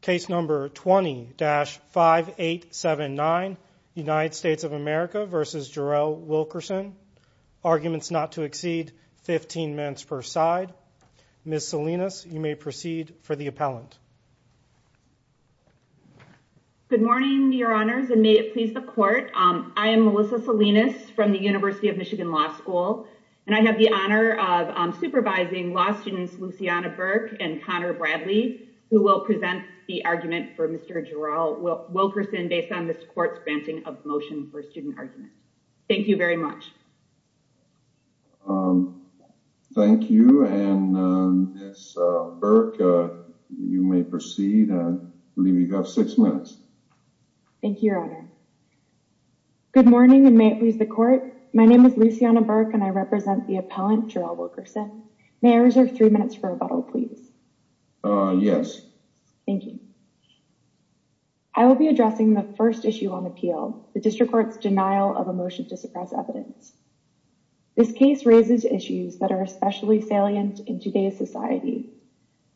Case number 20-5879, United States of America v. Jarrell Wilkerson. Arguments not to exceed 15 minutes per side. Ms. Salinas, you may proceed for the appellant. Good morning, your honors, and may it please the court. I am Melissa Salinas from the University of Michigan Law School, and I have the honor of will present the argument for Mr. Jarrell Wilkerson based on this court's granting of motion for student argument. Thank you very much. Thank you, and Ms. Burke, you may proceed. I believe you have six minutes. Thank you, your honor. Good morning, and may it please the court. My name is Luciana Burke, and I represent the Yes. Thank you. I will be addressing the first issue on appeal, the district court's denial of a motion to suppress evidence. This case raises issues that are especially salient in today's society.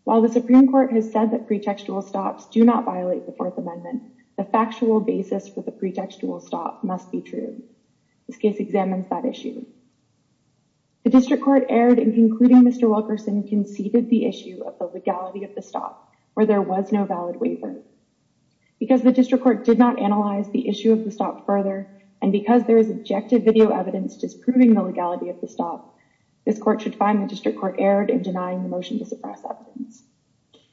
While the Supreme Court has said that pretextual stops do not violate the Fourth Amendment, the factual basis for the pretextual stop must be true. This case examines that issue. The district court erred in concluding Mr. Wilkerson conceded the issue of the legality of the stop, where there was no valid waiver. Because the district court did not analyze the issue of the stop further, and because there is objective video evidence disproving the legality of the stop, this court should find the district court erred in denying the motion to suppress evidence.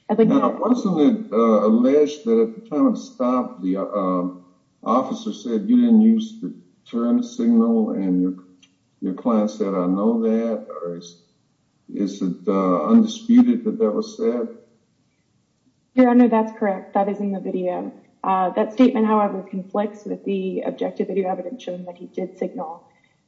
Now, wasn't it alleged that at the time of the stop, the officer said you didn't use the turn signal and your client said, I know that, or is it undisputed that that was said? Your Honor, that's correct. That is in the video. That statement, however, conflicts with the objective video evidence shown that he did signal,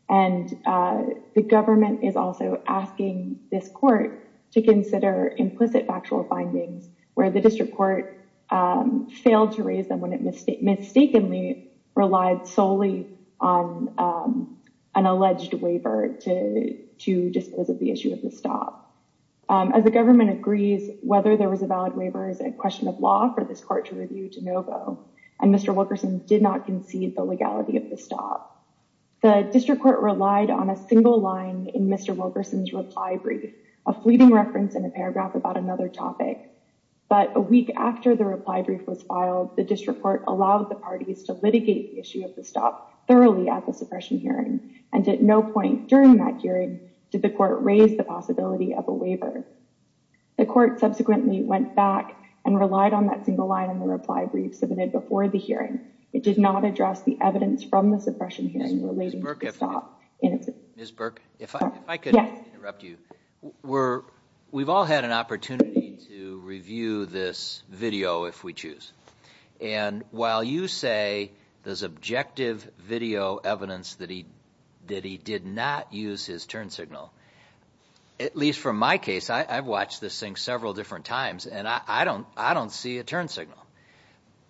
and the government is also asking this court to consider implicit factual findings where the district court failed to raise them when it mistakenly relied solely on an alleged waiver to dispose of the issue of the stop. As the government agrees, whether there was a valid waiver is a question of law for this court to review de novo, and Mr. Wilkerson did not concede the legality of the stop. The district court relied on a single line in Mr. Wilkerson's reply brief, a fleeting reference in a paragraph about another topic, but a week after the reply brief was filed, the district court allowed the parties to litigate the issue of the stop thoroughly at the suppression hearing, and at no point during that hearing did the court raise the possibility of a waiver. The court subsequently went back and relied on that single line in the reply brief submitted before the hearing. It did not address the evidence from the suppression hearing relating to the stop. Ms. Burke, if I could interrupt you. We've all had an opportunity to review this video if we choose, and while you say there's objective video evidence that he did not use his turn signal, at least from my case, I've watched this thing several different times, and I don't see a turn signal,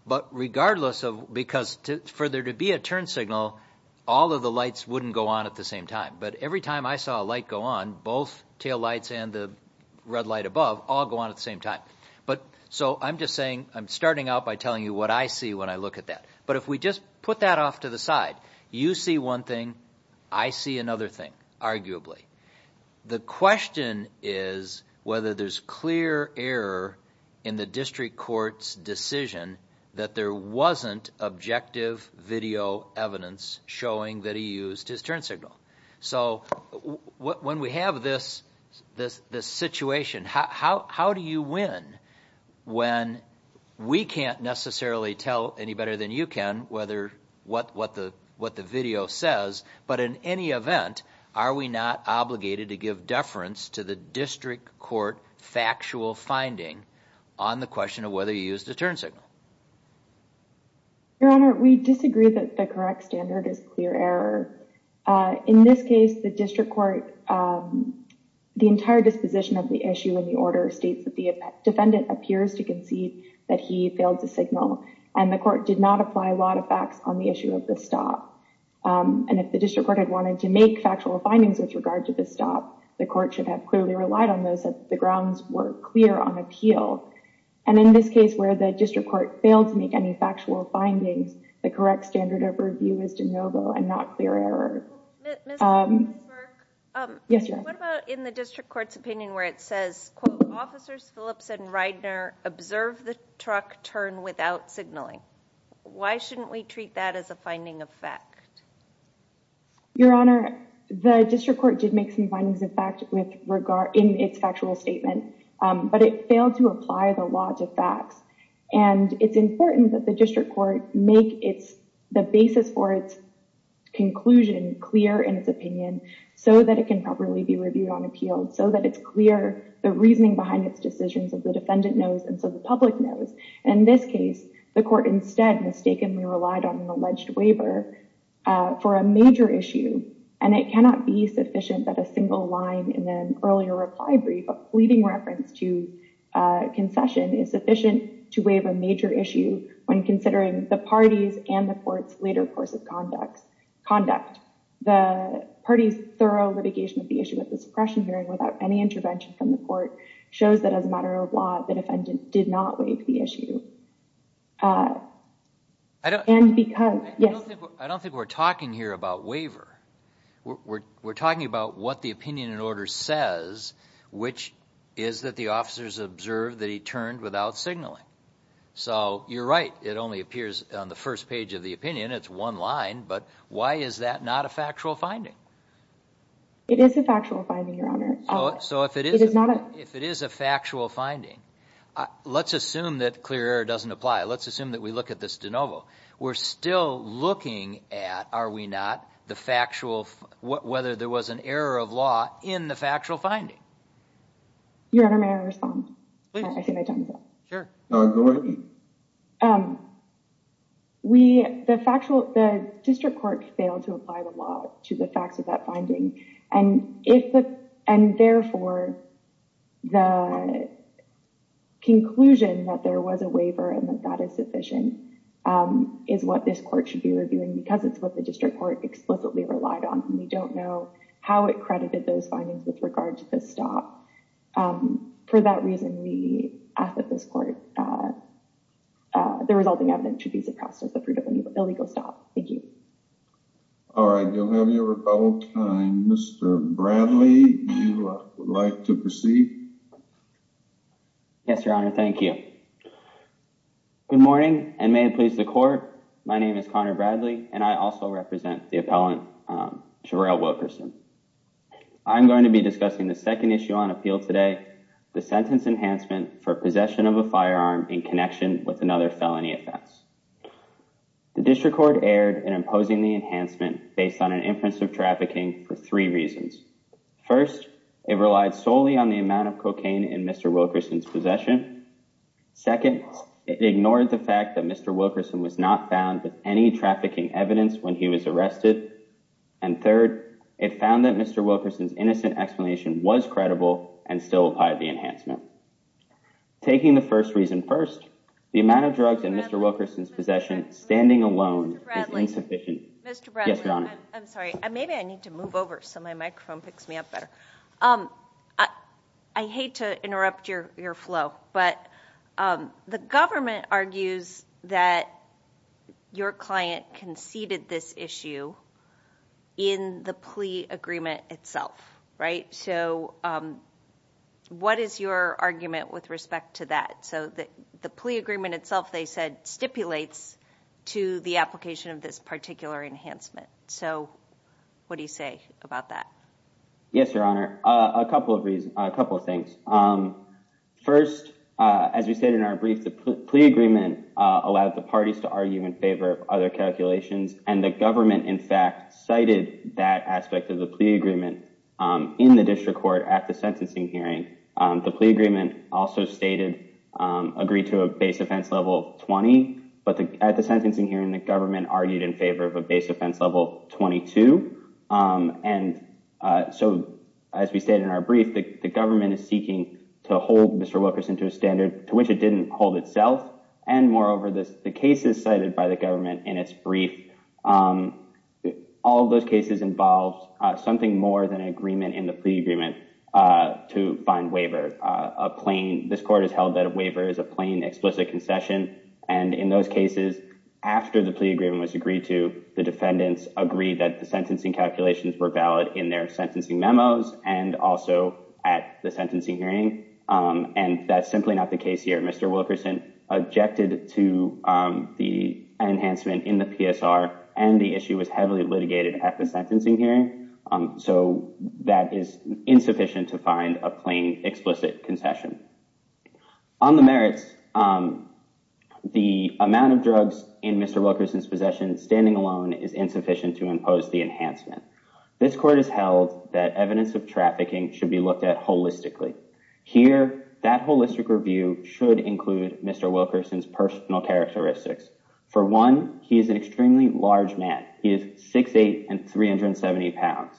but regardless of, because for there to be a turn signal, all of the lights wouldn't go on at the same time, but every time I saw a light go on, both tail lights and the red light above all go on the same time. So I'm just saying, I'm starting out by telling you what I see when I look at that, but if we just put that off to the side, you see one thing, I see another thing, arguably. The question is whether there's clear error in the district court's decision that there wasn't objective video evidence showing that he used his turn signal. So when we have this situation, how do you win when we can't necessarily tell any better than you can what the video says, but in any event, are we not obligated to give deference to the district court factual finding on the question of whether he used a turn signal? Your Honor, we disagree that the correct standard is clear error. In this case, the district court, the entire disposition of the issue in the order states that the defendant appears to concede that he failed to signal and the court did not apply a lot of facts on the issue of the stop. And if the district court had wanted to make factual findings with regard to the stop, the court should have clearly relied on those that the grounds were clear on appeal. And in this case, where the district court failed to make any factual findings, the correct standard of review is de novo and not clear error. Yes, Your Honor. What about in the district court's opinion where it says, quote, officers Phillips and Reidner observed the truck turn without signaling? Why shouldn't we treat that as a finding of fact? Your Honor, the district court did make some findings of fact in its factual statement, but it failed to apply the law to facts. And it's important that the district court make the basis for its conclusion clear in its opinion so that it can properly be reviewed on appeal, so that it's clear the reasoning behind its decisions of the defendant knows and so the public knows. In this case, the court instead mistakenly relied on an alleged waiver for a major issue. And it cannot be sufficient that a single line in an earlier reply brief of pleading reference to concession is sufficient to waive a major issue when considering the party's and the court's later course of conduct. The party's thorough litigation of the issue at the suppression hearing without any intervention from the court shows that as a matter of law, the defendant did not waive the issue. I don't think we're talking here about waiver. We're talking about what the opinion and order says, which is that the officers observed that he turned without signaling. So you're right, it only appears on the first page of the opinion. It's one line, but why is that not a factual finding? It is a factual finding, Your Honor. If it is a factual finding, let's assume that clear error doesn't apply. Let's assume that we look at this de novo. We're still looking at, are we not, whether there was an error of law in the factual finding. Your Honor, may I respond? Please. I think I timed that. Sure. Go ahead. We, the factual, the district court failed to apply the law to the facts of that finding, and if the, and therefore the conclusion that there was a waiver and that that is sufficient is what this court should be reviewing because it's what the district court explicitly relied on, and we don't know how it credited those findings with regard to this stop. For that reason, we ask that this court, the resulting evidence should be suppressed as a prudent legal stop. Thank you. All right, you'll have your rebuttal time. Mr. Bradley, you would like to proceed? Yes, Your Honor, thank you. Good morning, and may it please the court, my name is Connor Bradley, and I also represent the appellant, Jarell Wilkerson. I'm going to be discussing the second issue on appeal today, the sentence enhancement for possession of a firearm in connection with another felony offense. The district court erred in imposing the enhancement based on an inference of trafficking for three reasons. First, it relied solely on the amount of cocaine in Mr. Wilkerson's possession. Second, it ignored the fact that Mr. Wilkerson was not found with any trafficking evidence when he was arrested. And third, it found that Mr. Wilkerson's innocent explanation was credible and still applied the enhancement. Taking the first reason first, the amount of drugs in Mr. Wilkerson's possession standing alone is insufficient. Mr. Bradley. Yes, Your Honor. I'm sorry, maybe I need to move over so my microphone picks me up better. I hate to interrupt your flow, but the government argues that your client conceded this issue in the plea agreement itself, right? So what is your argument with respect to that? So the plea agreement itself, they said, stipulates to the application of this particular enhancement. So what do you say about that? Yes, Your Honor. A couple of things. First, as we said in our brief, the plea agreement allowed the parties to argue in favor of other calculations. And the government, in fact, cited that aspect of the plea agreement in the district court at the sentencing hearing. The plea agreement also agreed to a base offense level 20. But at the sentencing hearing, the government argued in favor of a base offense level 22. And so, as we said in our brief, the government is seeking to hold Mr. Wilkerson to a standard to which it didn't hold itself. And moreover, the cases cited by the government in its brief, all those cases involved something more than an agreement in the plea agreement to find waiver. This court has held that a waiver is a plain explicit concession. And in those cases, after the plea agreement was agreed to, the defendants agreed that the sentencing calculations were valid in their sentencing memos and also at the sentencing hearing. And that's simply not the case here. Mr. Wilkerson objected to the enhancement in the PSR and the issue was heavily litigated at the sentencing hearing. So that is insufficient to find a plain explicit concession. On the merits, the amount of drugs in Mr. Wilkerson's possession standing alone is insufficient to impose the enhancement. This court has held that evidence of trafficking should be looked at holistically. Here, that holistic review should include Mr. Wilkerson's personal characteristics. For one, he is an extremely large man. He is 6'8 and 370 pounds.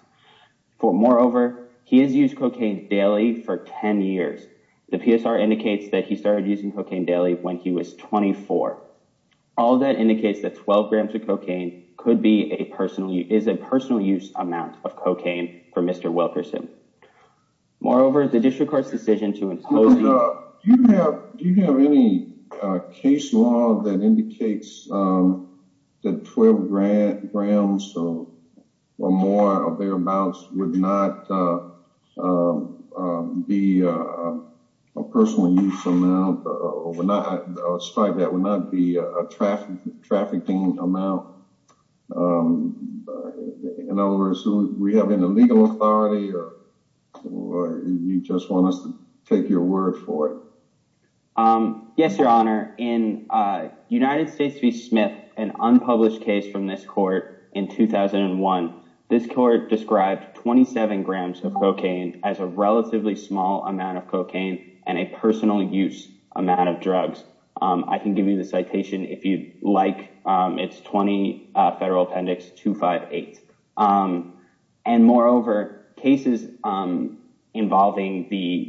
Moreover, he has used cocaine daily for 10 years. The PSR indicates that he started using cocaine daily when he was 24. All that indicates that 12 grams of cocaine is a personal use amount of cocaine for Mr. Wilkerson. Moreover, the district court's decision to impose... Do you have any case law that indicates that 12 grams or more of their amounts would not be a personal use amount or would not, despite that, would not be a trafficking amount? In other words, do we have any legal authority or do you just want us to take your word for it? Yes, Your Honor. In United States v. Smith, an unpublished case from this court in 2001, this court described 27 grams of cocaine as a relatively small amount of cocaine and a personal use amount of drugs. I can give you the citation if you'd like. It's 20 Federal Appendix 258. Moreover, cases involving the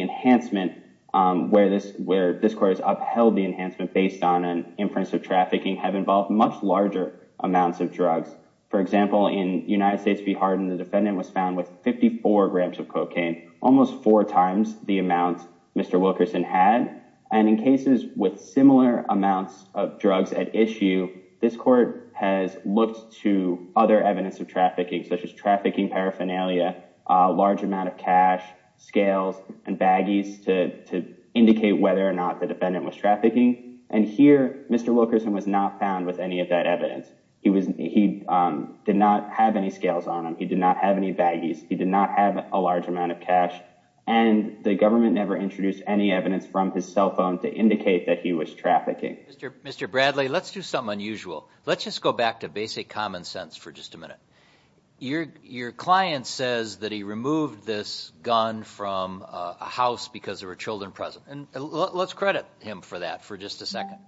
enhancement where this court has upheld the enhancement based on an inference of trafficking have involved much larger amounts of drugs. For example, in United States v. Hardin, the defendant was found with 54 grams of cocaine, almost four times the amount Mr. Wilkerson had. In cases with similar amounts of drugs at issue, this court has looked to other evidence of trafficking, such as trafficking paraphernalia, large amount of cash, scales, and baggies to indicate whether or not the defendant was trafficking. Here, Mr. Wilkerson was not found with any of that evidence. He did not have any and the government never introduced any evidence from his cell phone to indicate that he was trafficking. Mr. Bradley, let's do something unusual. Let's just go back to basic common sense for just a minute. Your client says that he removed this gun from a house because there were children present. Let's credit him for that for just a second.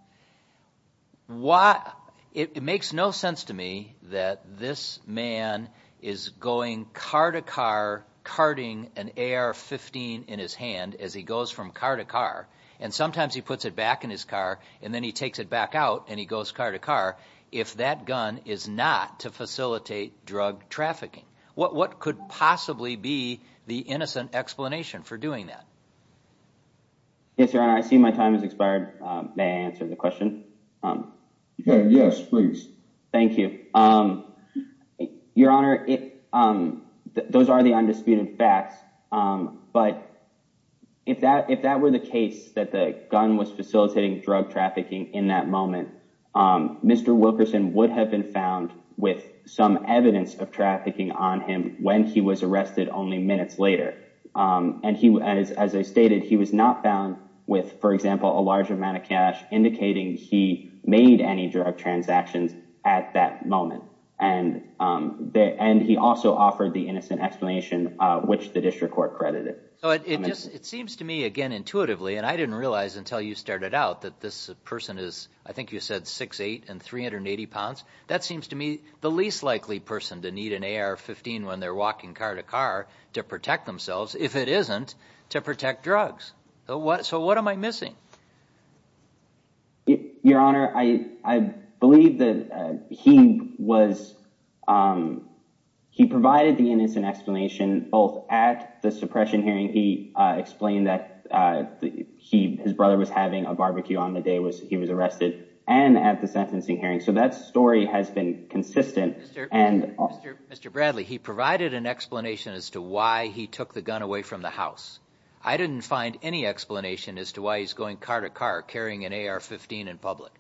It makes no sense to me that this man is going car to car carting an AR-15 in his hand as he goes from car to car and sometimes he puts it back in his car and then he takes it back out and he goes car to car if that gun is not to facilitate drug trafficking. What could possibly be the innocent explanation for doing that? Yes, your honor. I see my time has expired. May I answer the question? Yes, please. Thank you. Your honor, those are the undisputed facts, but if that were the case that the gun was facilitating drug trafficking in that moment, Mr. Wilkerson would have been found with some evidence of trafficking on him when he was arrested only minutes later. As I stated, he was not found with, for example, a large amount of cash indicating he made any drug transactions at that time. He also offered the innocent explanation, which the district court credited. It seems to me again intuitively, and I didn't realize until you started out that this person is, I think you said 6'8 and 380 pounds. That seems to me the least likely person to need an AR-15 when they're walking car to car to protect themselves if it isn't to protect drugs. So what am I missing? Your honor, I believe that he provided the innocent explanation both at the suppression hearing. He explained that his brother was having a barbecue on the day he was arrested and at the sentencing hearing. So that story has been consistent. Mr. Bradley, he provided an explanation as to why he took the gun away from the house. I didn't find any explanation as to why he's going car to car carrying an AR-15 in public.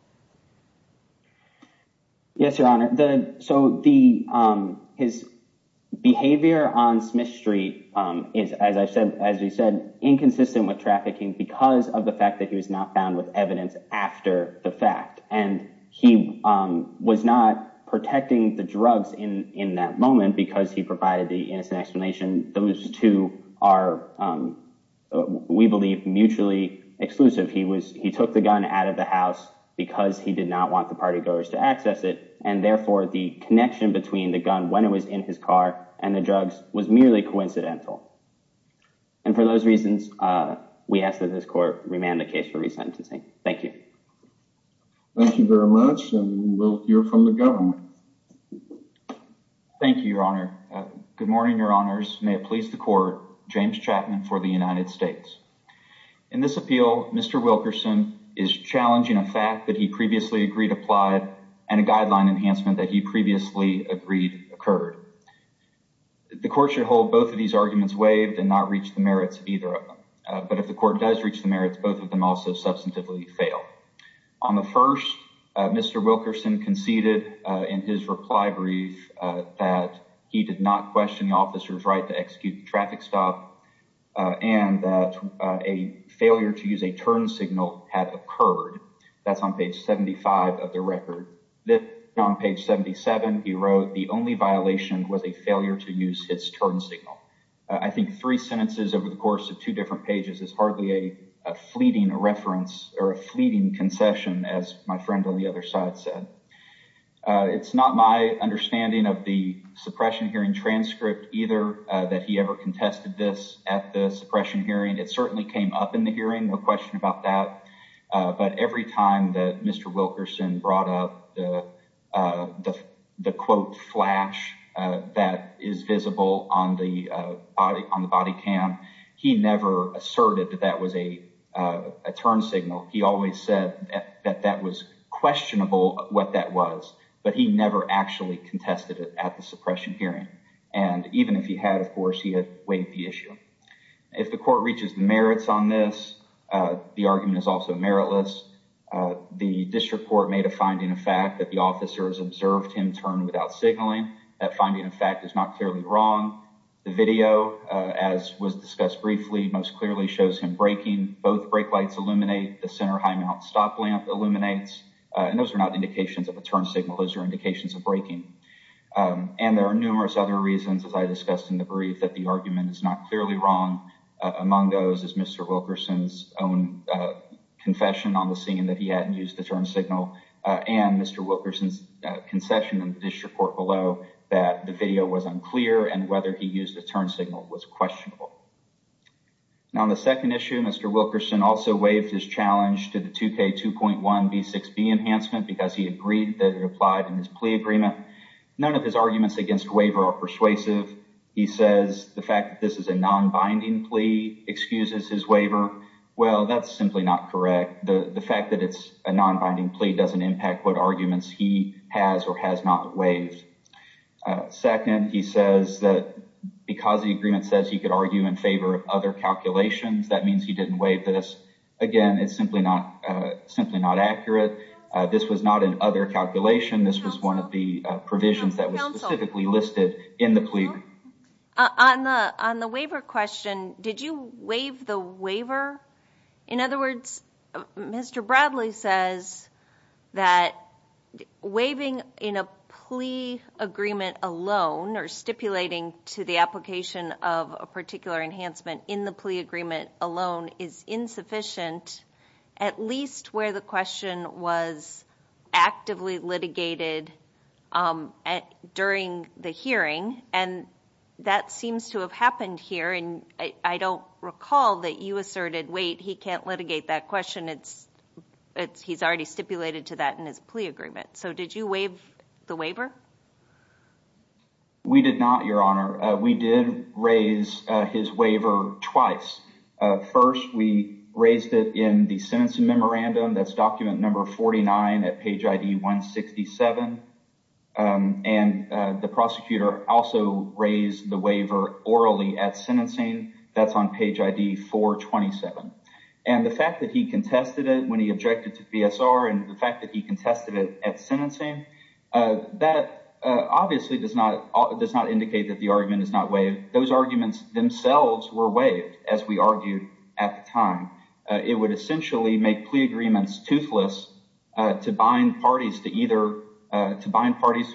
Yes, your honor. So his behavior on Smith Street is, as I said, inconsistent with trafficking because of the fact that he was not found with evidence after the fact. And he was not protecting the drugs in that moment because he provided the innocent explanation. Those two are, we believe, mutually exclusive. He took the gun out of the house because he did not want the party goers to access it. And therefore, the connection between the gun when it was in his car and the drugs was merely coincidental. And for those reasons, we ask that this court remand the case for resentencing. Thank you. Thank you very much. And we'll hear from the government. Thank you, your honor. Good morning, your honors. May it please the court, James Chapman for the United States. In this appeal, Mr. Wilkerson is challenging a fact that he previously agreed applied and a guideline enhancement that he previously agreed occurred. The court should hold both of these arguments waived and not reach the merits of either of them. But if the court does reach the merits, both of them also substantively fail. On the first, Mr. Wilkerson conceded in his reply brief that he did not question the officer's right to execute traffic stop and that a failure to use a turn signal had occurred. That's on page 75 of the record. Then on page 77, he wrote the only violation was a failure to use his turn signal. I think three sentences over the course of two different pages is hardly a fleeting reference or a fleeting concession, as my friend on the other side said. It's not my understanding of the contested this at the suppression hearing. It certainly came up in the hearing. No question about that. But every time that Mr. Wilkerson brought up the the quote flash that is visible on the on the body cam, he never asserted that that was a turn signal. He always said that that was questionable what that was, but he never actually contested it at the suppression hearing. And even if he had, of course, he had weighed the issue. If the court reaches the merits on this, the argument is also meritless. The district court made a finding of fact that the officers observed him turn without signaling. That finding, in fact, is not clearly wrong. The video, as was discussed briefly, most clearly shows him braking. Both brake lights illuminate. The center high mount stop lamp illuminates. And those are not indications of a turn signal. Those are indications of braking. And there are numerous other reasons, as I discussed in the brief, that the argument is not clearly wrong. Among those is Mr. Wilkerson's own confession on the scene that he hadn't used the turn signal and Mr. Wilkerson's concession in the district court below that the video was unclear and whether he used the turn signal was questionable. Now, the second issue, Mr. Wilkerson also waived his challenge to the 2K2.1B6B enhancement because he agreed that it applied in his plea agreement. None of his arguments against waiver are persuasive. He says the fact that this is a non-binding plea excuses his waiver. Well, that's simply not correct. The fact that it's a non-binding plea doesn't impact what arguments he has or has not waived. Second, he says that because the agreement says he could argue in favor of other calculations, that means he didn't waive this. Again, it's simply not accurate. This was not an other calculation. This was one of the provisions that was specifically listed in the plea. On the waiver question, did you waive the waiver? In other words, Mr. Bradley says that waiving in a plea agreement alone or stipulating to the application of a particular enhancement in the plea agreement alone is insufficient, at least where the question was actively litigated during the hearing. That seems to have happened here. I don't recall that you asserted, wait, he can't litigate that question. He's already stipulated to that in his plea agreement. Did you waive the waiver? We did not, Your Honor. We did raise his waiver twice. First, we raised it in the sentencing memorandum. That's document number 49 at page ID 167. The prosecutor also raised the waiver orally at sentencing. That's on page ID 427. The fact that he contested it when he obviously does not indicate that the argument is not waived. Those arguments themselves were waived as we argued at the time. It would essentially make plea agreements toothless to bind parties to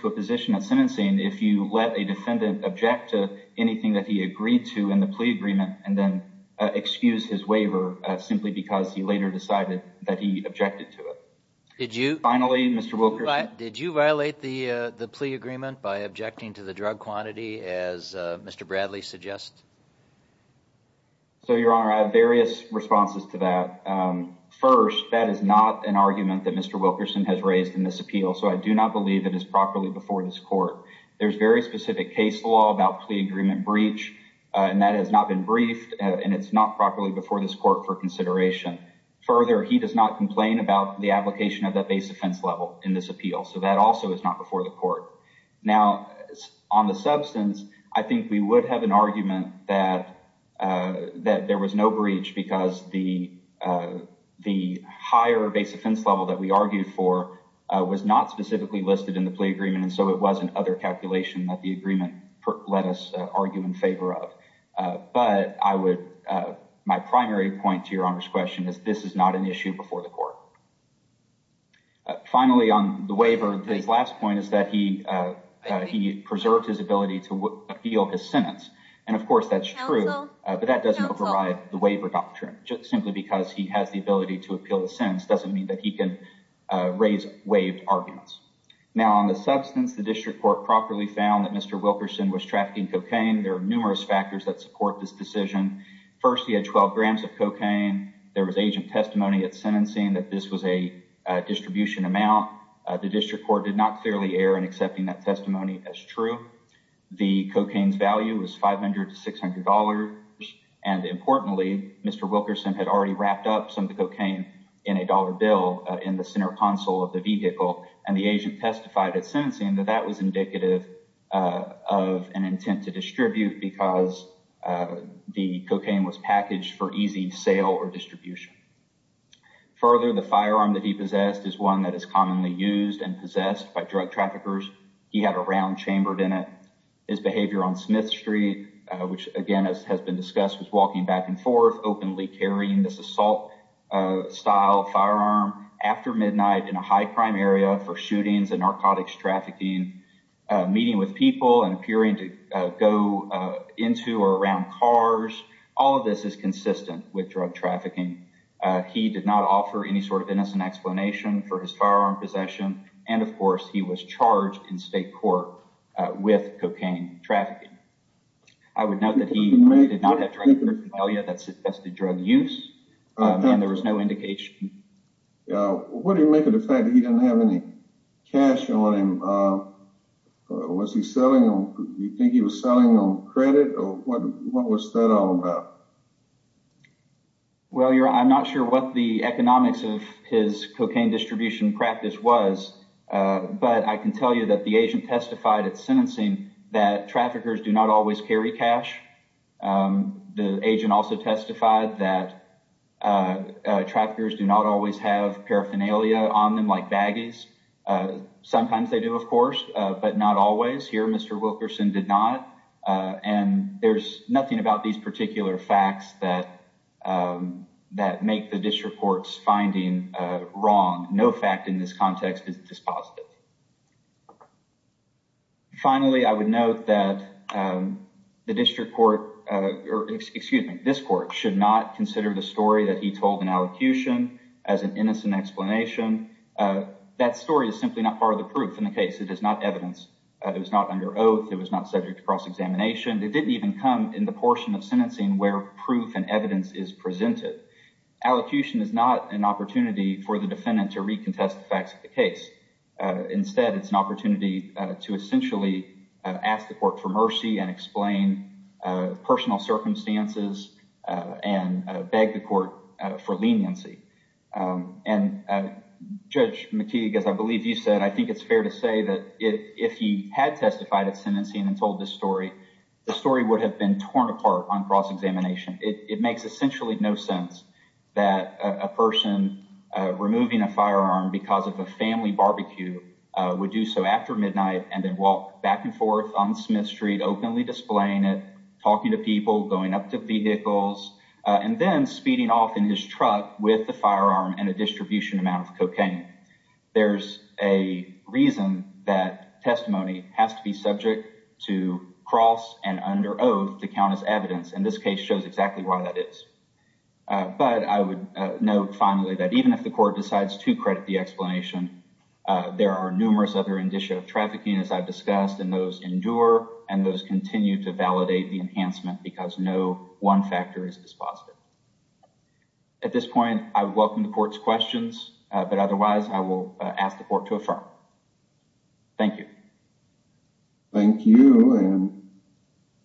a position at sentencing if you let a defendant object to anything that he agreed to in the plea agreement and then excuse his waiver simply because he later decided that he objected to it. Finally, Mr. Wilkerson, did you violate the plea agreement by objecting to the drug quantity as Mr. Bradley suggests? So, Your Honor, I have various responses to that. First, that is not an argument that Mr. Wilkerson has raised in this appeal, so I do not believe it is properly before this court. There's very specific case law about plea agreement breach and that has not been briefed and it's not properly before this court for consideration. Further, he does not complain about the application of that base offense level in this appeal, so that also is not before the court. Now, on the substance, I think we would have an argument that there was no breach because the higher base offense level that we argued for was not specifically listed in the plea agreement and so it was an other calculation that the this is not an issue before the court. Finally, on the waiver, his last point is that he preserved his ability to appeal his sentence and, of course, that's true, but that doesn't override the waiver doctrine. Just simply because he has the ability to appeal the sentence doesn't mean that he can raise waived arguments. Now, on the substance, the district court properly found that Mr. Wilkerson was trafficking cocaine. There are numerous factors that support this decision. First, he had 12 grams of cocaine. There was agent testimony at sentencing that this was a distribution amount. The district court did not clearly err in accepting that testimony as true. The cocaine's value was $500 to $600 and, importantly, Mr. Wilkerson had already wrapped up some of the cocaine in a dollar bill in the center console of the vehicle and the agent cocaine was packaged for easy sale or distribution. Further, the firearm that he possessed is one that is commonly used and possessed by drug traffickers. He had a round chambered in it. His behavior on Smith Street, which again has been discussed, was walking back and forth, openly carrying this assault style firearm after midnight in a high crime area for shootings and cars. All of this is consistent with drug trafficking. He did not offer any sort of innocent explanation for his firearm possession and, of course, he was charged in state court with cocaine trafficking. I would note that he did not have drugs that suggested drug use and there was no indication. What do you make of the fact that he didn't have any cash on him? Was he selling? Do you think he was selling on credit or what was that all about? Well, I'm not sure what the economics of his cocaine distribution practice was, but I can tell you that the agent testified at sentencing that traffickers do not always carry cash. The agent also testified that traffickers do not always have paraphernalia on them like but not always. Here, Mr. Wilkerson did not and there's nothing about these particular facts that make the district court's finding wrong. No fact in this context is dispositive. Finally, I would note that this court should not consider the story that he told in allocution as an innocent explanation. That story is simply not part of the proof in the case. It is not evidence. It was not under oath. It was not subject to cross-examination. It didn't even come in the portion of sentencing where proof and evidence is presented. Allocution is not an opportunity for the defendant to recontest the facts of the case. Instead, it's an opportunity to essentially ask the court for mercy and explain personal circumstances and beg the court for leniency. And Judge McKeague, as I believe you said, I think it's fair to say that if he had testified at sentencing and told this story, the story would have been torn apart on cross-examination. It makes essentially no sense that a person removing a firearm because of a family barbecue would do so after midnight and then walk back and forth on Smith Street, openly displaying it, talking to people, going up to vehicles, and then speeding off in his truck with the firearm and a distribution amount of cocaine. There's a reason that testimony has to be subject to cross and under oath to count as evidence, and this case shows exactly why that is. But I would note finally that even if the court decides to credit the explanation, there are numerous other indicia of trafficking, as I've discussed, and those endure and those continue to validate the enhancement because no one factor is dispositive. At this point, I welcome the court's questions, but otherwise I will ask the court to affirm. Thank you. Thank you, and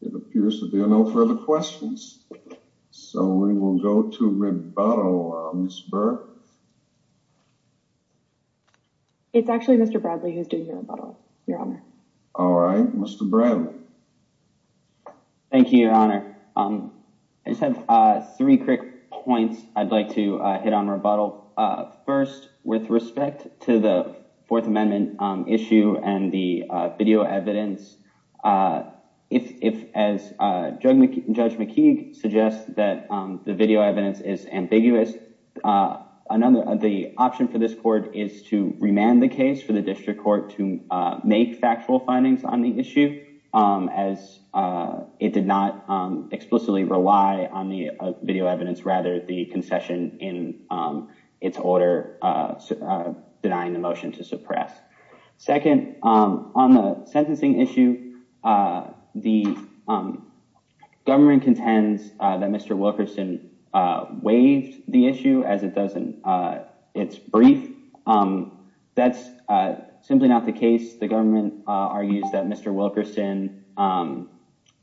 there appears to be no further questions, so we will go to rebuttal, Ms. Burke. It's actually Mr. Bradley who's doing the rebuttal, Your Honor. All right, Mr. Bradley. Thank you, Your Honor. I just have three quick points I'd like to hit on rebuttal. First, with respect to the Fourth Amendment issue and the video evidence, if, as Judge McKeague suggests, that the video evidence is ambiguous, the option for this court is to remand the case for the district court to make factual findings on the issue, as it did not explicitly rely on the video evidence, rather the concession in its order denying the motion to suppress. Second, on the sentencing issue, the government contends that Mr. Wilkerson waived the issue, as it does in its brief. That's simply not the case. The government argues that Mr. Wilkerson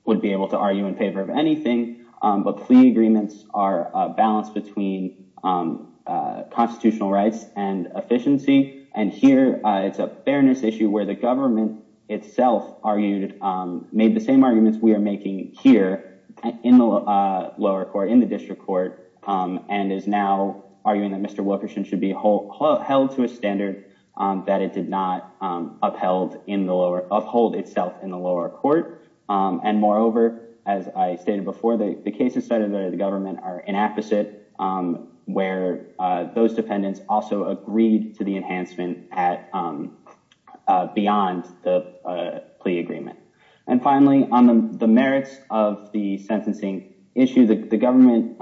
would be able to argue in favor of anything, but plea agreements are a balance between constitutional rights and efficiency, and here it's a fairness issue where the government itself argued, made the same arguments we are making here in the lower court, in the district court, and is now arguing that Mr. Wilkerson should be held to a standard that it did not uphold itself in the lower court. And moreover, as I stated before, the cases cited by the where those defendants also agreed to the enhancement beyond the plea agreement. And finally, on the merits of the sentencing issue, the government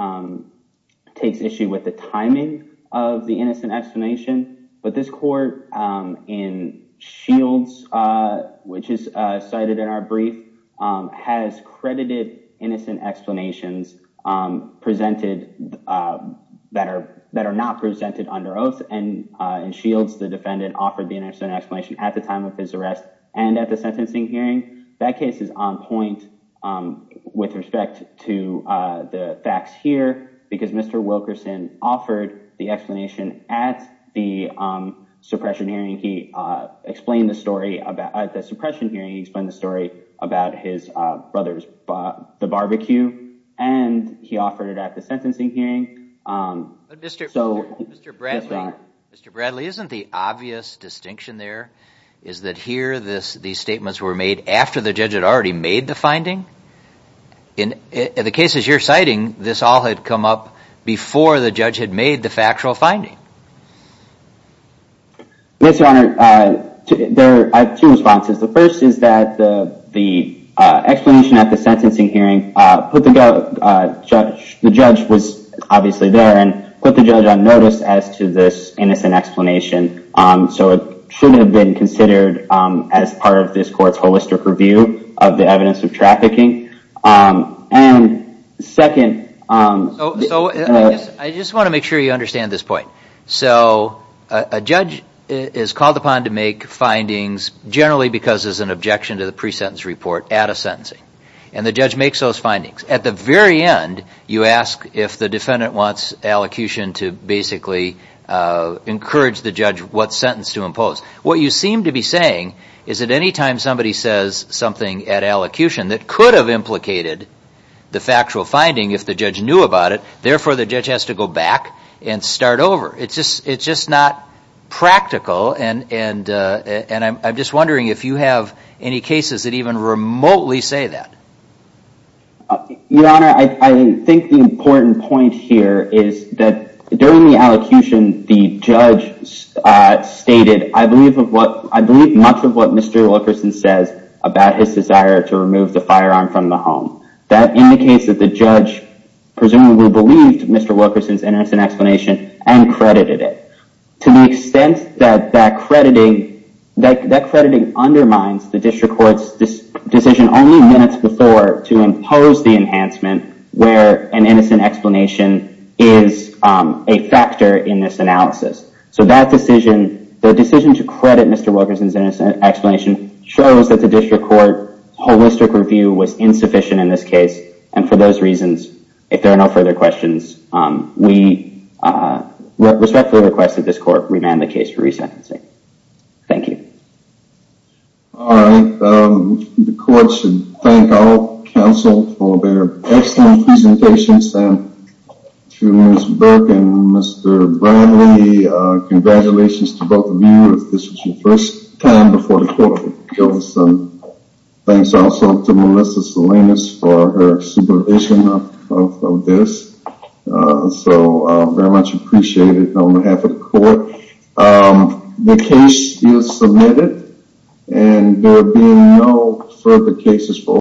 takes issue with the timing of the innocent explanation, but this court in Shields, which is cited in our brief, has credited innocent explanations presented that are not presented under oath, and in Shields, the defendant offered the innocent explanation at the time of his arrest and at the sentencing hearing. That case is on point with respect to the facts here, because Mr. Wilkerson offered the explanation at the suppression hearing. He explained the story, at the suppression hearing, he explained the story about his brother's barbecue, and he offered it at the sentencing hearing. But Mr. Bradley, isn't the obvious distinction there is that here these statements were made after the judge had already made the finding? In the cases you're citing, this all had come up before the judge had made the factual finding. Yes, Your Honor, there are two responses. The first is that the explanation at the sentencing hearing put the judge, the judge was obviously there, and put the judge on notice as to this innocent explanation. So it shouldn't have been considered as part of this court's holistic review of the evidence of trafficking. And second... So I just want to make sure you understand this point. So a judge is called upon to make findings generally because there's an objection to the pre-sentence report at a sentencing. And the judge makes those findings. At the very end, you ask if the defendant wants allocution to basically encourage the judge what sentence to impose. What you seem to be saying is that anytime somebody says something at allocution that could have implicated the factual finding if the judge knew about it, therefore the judge has to go back and start over. It's just not practical. And I'm just wondering if you have any cases that even remotely say that. Your Honor, I think the important point here is that during the allocution, the judge stated, I believe much of what Mr. Wilkerson says about his desire to remove the firearm from the home. That indicates that the judge presumably believed Mr. Wilkerson's innocent explanation and credited it. To the extent that that crediting undermines the district court's decision only minutes before to impose the enhancement where an innocent explanation is a factor in this analysis. So that decision, the decision to credit Mr. Wilkerson's innocent explanation shows that the district court holistic review was insufficient in this case. And for those reasons, if there are no further questions, we respectfully request that this court remand the case for resentencing. Thank you. All right, the court should thank our counsel for their excellent presentations. And to Ms. Burke and Mr. Bradley, congratulations to her supervision of this. So very much appreciated on behalf of the court. The case is submitted and there will be no further cases for